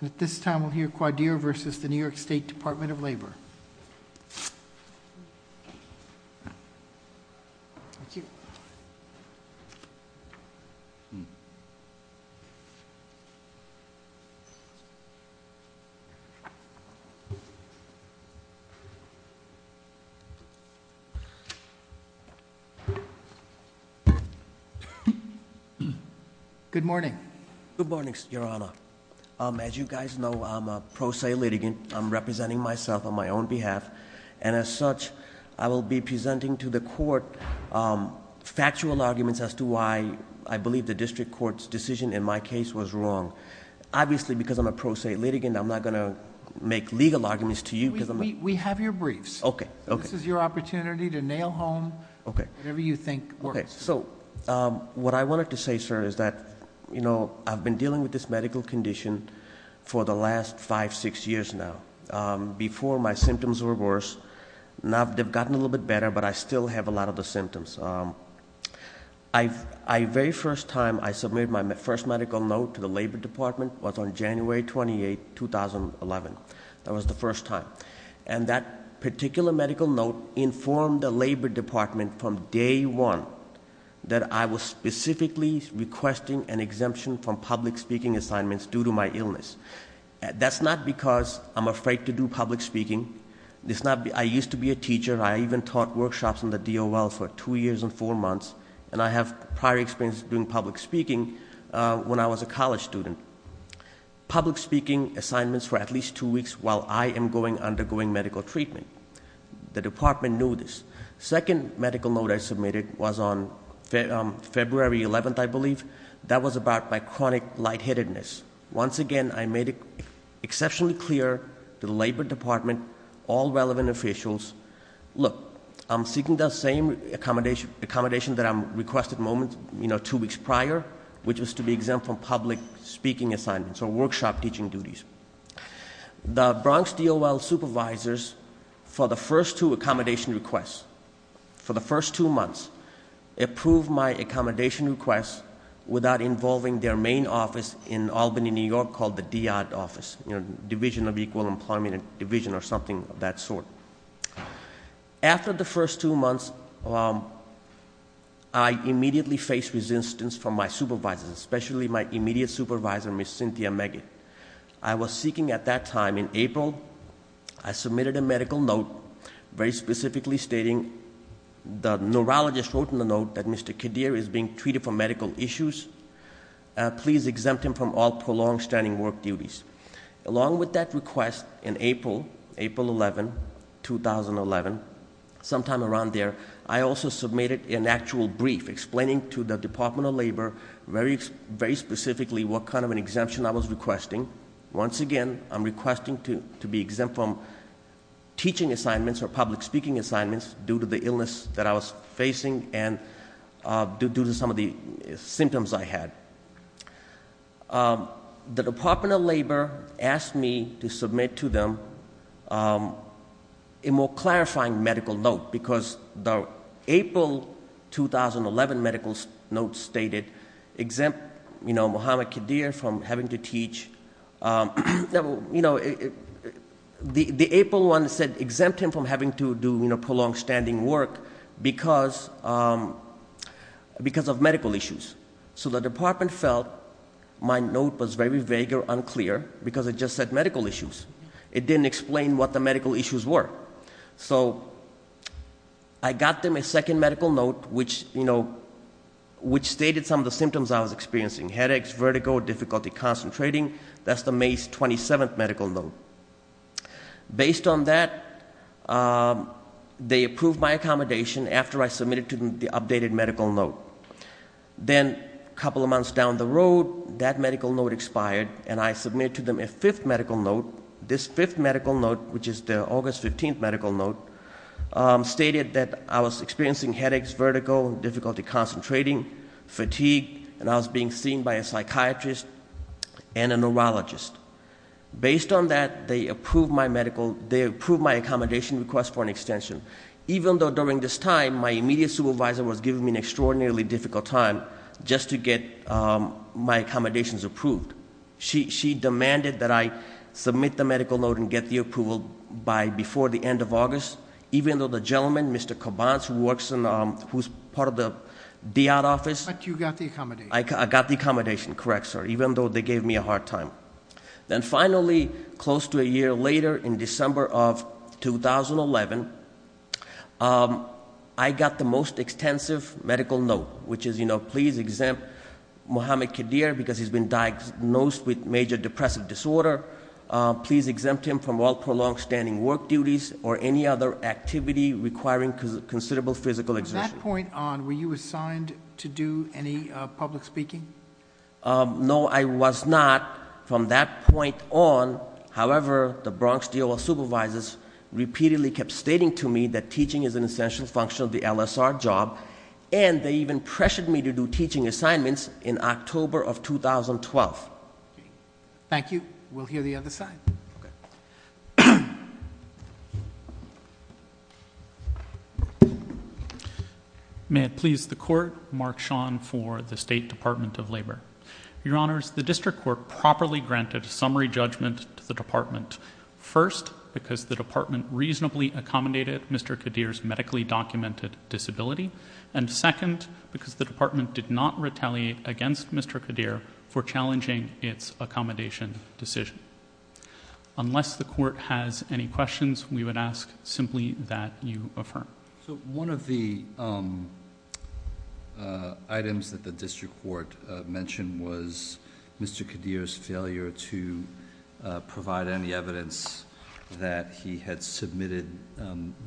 And at this time, we'll hear Quadir versus the New York State Department of Labor. Thank you. Good morning. Good morning, Your Honor. As you guys know, I'm a pro se litigant. I'm representing myself on my own behalf. And as such, I will be presenting to the court factual arguments as to why I believe the district court's decision in my case was wrong. Obviously, because I'm a pro se litigant, I'm not going to make legal arguments to you because I'm- We have your briefs. Okay, okay. This is your opportunity to nail home whatever you think works. So, what I wanted to say, sir, is that I've been dealing with this medical condition for the last five, six years now. Before, my symptoms were worse. Now, they've gotten a little bit better, but I still have a lot of the symptoms. I very first time I submitted my first medical note to the Labor Department was on January 28, 2011. That was the first time. And that particular medical note informed the Labor Department from day one that I was specifically requesting an exemption from public speaking assignments due to my illness. That's not because I'm afraid to do public speaking. It's not, I used to be a teacher. I even taught workshops in the DOL for two years and four months. And I have prior experience doing public speaking when I was a college student. Public speaking assignments for at least two weeks while I am undergoing medical treatment. The department knew this. Second medical note I submitted was on February 11th, I believe. That was about my chronic lightheadedness. Once again, I made it exceptionally clear to the Labor Department, all relevant officials, look, I'm seeking the same accommodation that I'm requested moments, two weeks prior, which is to be exempt from public speaking assignments or workshop teaching duties. The Bronx DOL supervisors, for the first two accommodation requests, for the first two months, approved my accommodation request without involving their main office in Albany, New York called the DI office, Division of Equal Employment Division or something of that sort. After the first two months, I immediately faced resistance from my supervisors, especially my immediate supervisor, Ms. Cynthia Maggett. I was seeking at that time in April, I submitted a medical note very specifically stating, the neurologist wrote in the note that Mr. Kadir is being treated for medical issues. Please exempt him from all prolonged standing work duties. Along with that request, in April, April 11, 2011, sometime around there, I also submitted an actual brief explaining to the Department of Labor very specifically what kind of an exemption I was requesting. Once again, I'm requesting to be exempt from teaching assignments or public speaking assignments due to the illness that I was facing and due to some of the symptoms I had. The Department of Labor asked me to submit to them a more clarifying medical note, because the April 2011 medical note stated, exempt Muhammad Kadir from having to teach. The April one said, exempt him from having to do prolonged standing work because of medical issues. So the department felt my note was very vague or unclear because it just said medical issues. It didn't explain what the medical issues were. So I got them a second medical note which stated some of the symptoms I was experiencing. Headaches, vertigo, difficulty concentrating, that's the May 27th medical note. Based on that, they approved my accommodation after I submitted to them the updated medical note. Then, a couple of months down the road, that medical note expired, and I submitted to them a fifth medical note. This fifth medical note, which is the August 15th medical note, stated that I was experiencing headaches, vertigo, difficulty concentrating, fatigue, and I was being seen by a psychiatrist and a neurologist. Based on that, they approved my accommodation request for an extension. Even though during this time, my immediate supervisor was giving me an extraordinarily difficult time just to get my accommodations approved. She demanded that I submit the medical note and get the approval by before the end of August, even though the gentleman, Mr. Cobanz, who's part of the DI office- But you got the accommodation. I got the accommodation, correct sir, even though they gave me a hard time. Then finally, close to a year later, in December of 2011, I got the most extensive medical note, which is please exempt Muhammad Qadir because he's been diagnosed with major depressive disorder. Please exempt him from all prolonged standing work duties or any other activity requiring considerable physical exertion. From that point on, were you assigned to do any public speaking? No, I was not from that point on. However, the Bronx DOA supervisors repeatedly kept stating to me that teaching is an essential function of the LSR job. And they even pressured me to do teaching assignments in October of 2012. Thank you. We'll hear the other side. Okay. May it please the court, Mark Sean for the State Department of Labor. Your honors, the district court properly granted a summary judgment to the department. First, because the department reasonably accommodated Mr. Qadir's medically documented disability. And second, because the department did not retaliate against Mr. Qadir for challenging its accommodation decision. Unless the court has any questions, we would ask simply that you affirm. So one of the items that the district court mentioned was Mr. Qadir's failure to provide any evidence that he had submitted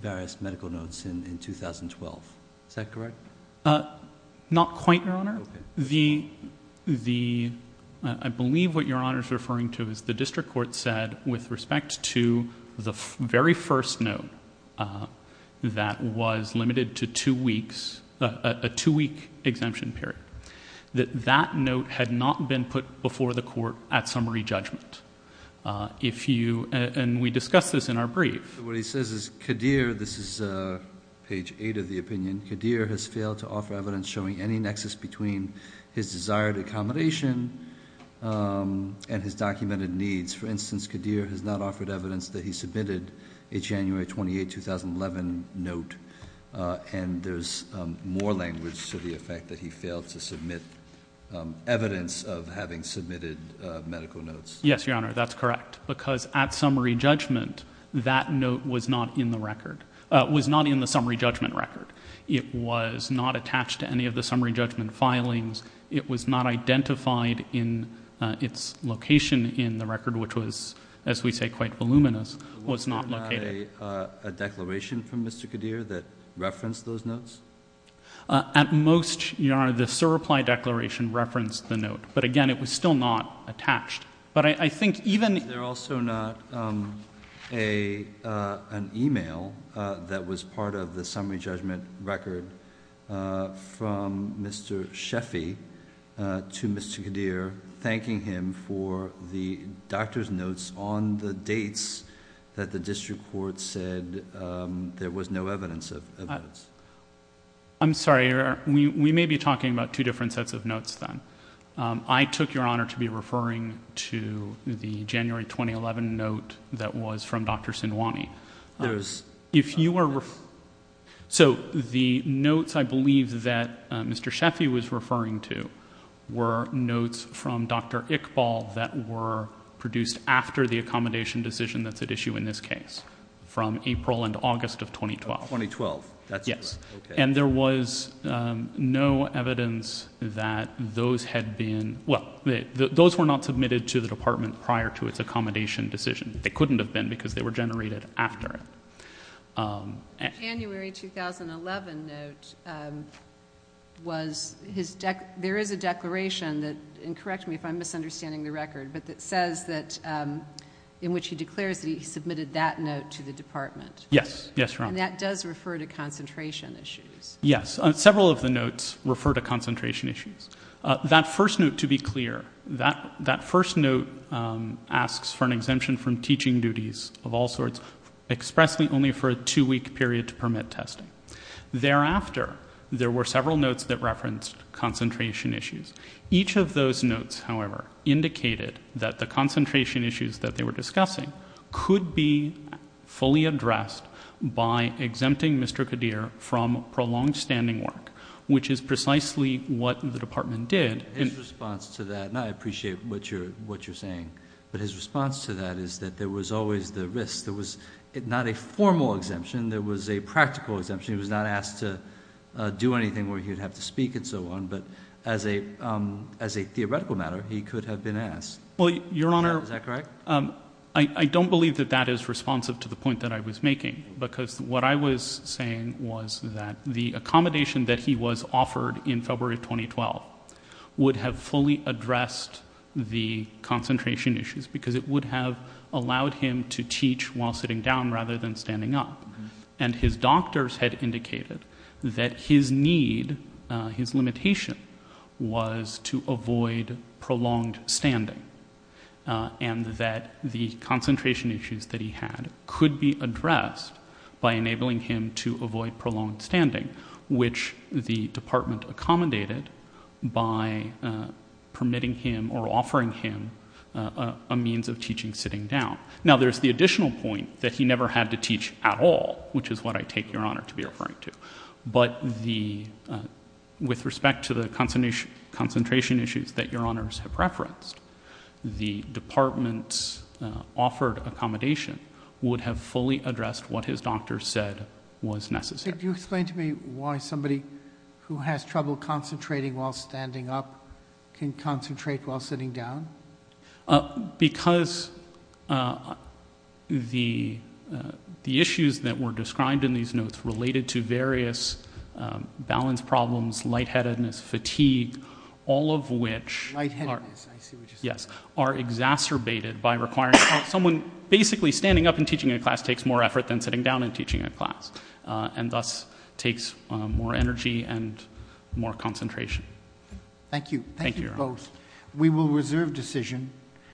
various medical notes in 2012. Is that correct? Not quite, your honor. The, I believe what your honor is referring to is the district court said, with respect to the very first note that was limited to two weeks, a two week exemption period, that that note had not been put before the court at summary judgment. If you, and we discussed this in our brief. What he says is, Qadir, this is page eight of the opinion, Qadir has failed to offer evidence showing any nexus between his desired accommodation and his documented needs. For instance, Qadir has not offered evidence that he submitted a January 28, 2011 note. And there's more language to the effect that he failed to submit evidence of having submitted medical notes. Yes, your honor, that's correct. Because at summary judgment, that note was not in the record, was not in the summary judgment record. It was not attached to any of the summary judgment filings. It was not identified in its location in the record, which was, as we say, quite voluminous, was not located. Was there not a declaration from Mr. Qadir that referenced those notes? At most, your honor, the sir reply declaration referenced the note. But again, it was still not attached. But I think even- Is there also not an email that was part of the summary judgment record from Mr. Sheffy to Mr. Qadir, thanking him for the doctor's notes on the dates that the district court said there was no evidence of evidence? I'm sorry, we may be talking about two different sets of notes then. I took your honor to be referring to the January 2011 note that was from Dr. Sinwani. If you were, so the notes I believe that Mr. Sheffy was referring to were notes from Dr. Iqbal that were produced after the accommodation decision that's at issue in this case, from April and August of 2012. 2012, that's correct. Yes. And there was no evidence that those had been, well, those were not submitted to the department prior to its accommodation decision. They couldn't have been, because they were generated after it. January 2011 note was, there is a declaration that, and correct me if I'm misunderstanding the record, but that says that in which he declares that he submitted that note to the department. Yes, yes, your honor. And that does refer to concentration issues. Yes, several of the notes refer to concentration issues. That first note, to be clear, that first note asks for an exemption from teaching duties of all sorts, expressly only for a two week period to permit testing. Thereafter, there were several notes that referenced concentration issues. Each of those notes, however, indicated that the concentration issues that they were discussing could be fully addressed by exempting Mr. Kadir from prolonged standing work. Which is precisely what the department did. His response to that, and I appreciate what you're saying, but his response to that is that there was always the risk. There was not a formal exemption, there was a practical exemption. He was not asked to do anything where he would have to speak and so on, but as a theoretical matter, he could have been asked. Well, your honor- Is that correct? I don't believe that that is responsive to the point that I was making. Because what I was saying was that the accommodation that he was offered in February 2012 would have fully addressed the concentration issues. Because it would have allowed him to teach while sitting down rather than standing up. And his doctors had indicated that his need, his limitation was to avoid prolonged standing. And that the concentration issues that he had could be addressed by enabling him to avoid prolonged standing. Which the department accommodated by permitting him or offering him a means of teaching sitting down. Now there's the additional point that he never had to teach at all, which is what I take your honor to be referring to. But with respect to the concentration issues that your honors have referenced, the department's offered accommodation would have fully addressed what his doctor said was necessary. Could you explain to me why somebody who has trouble concentrating while standing up can concentrate while sitting down? Because the issues that were described in these notes related to various balance problems, lightheadedness, fatigue, all of which- Lightheadedness, I see what you're saying. Yes, are exacerbated by requiring someone basically standing up and teaching a class takes more effort than sitting down and teaching a class. And thus takes more energy and more concentration. Thank you. Thank you both. We will reserve decision.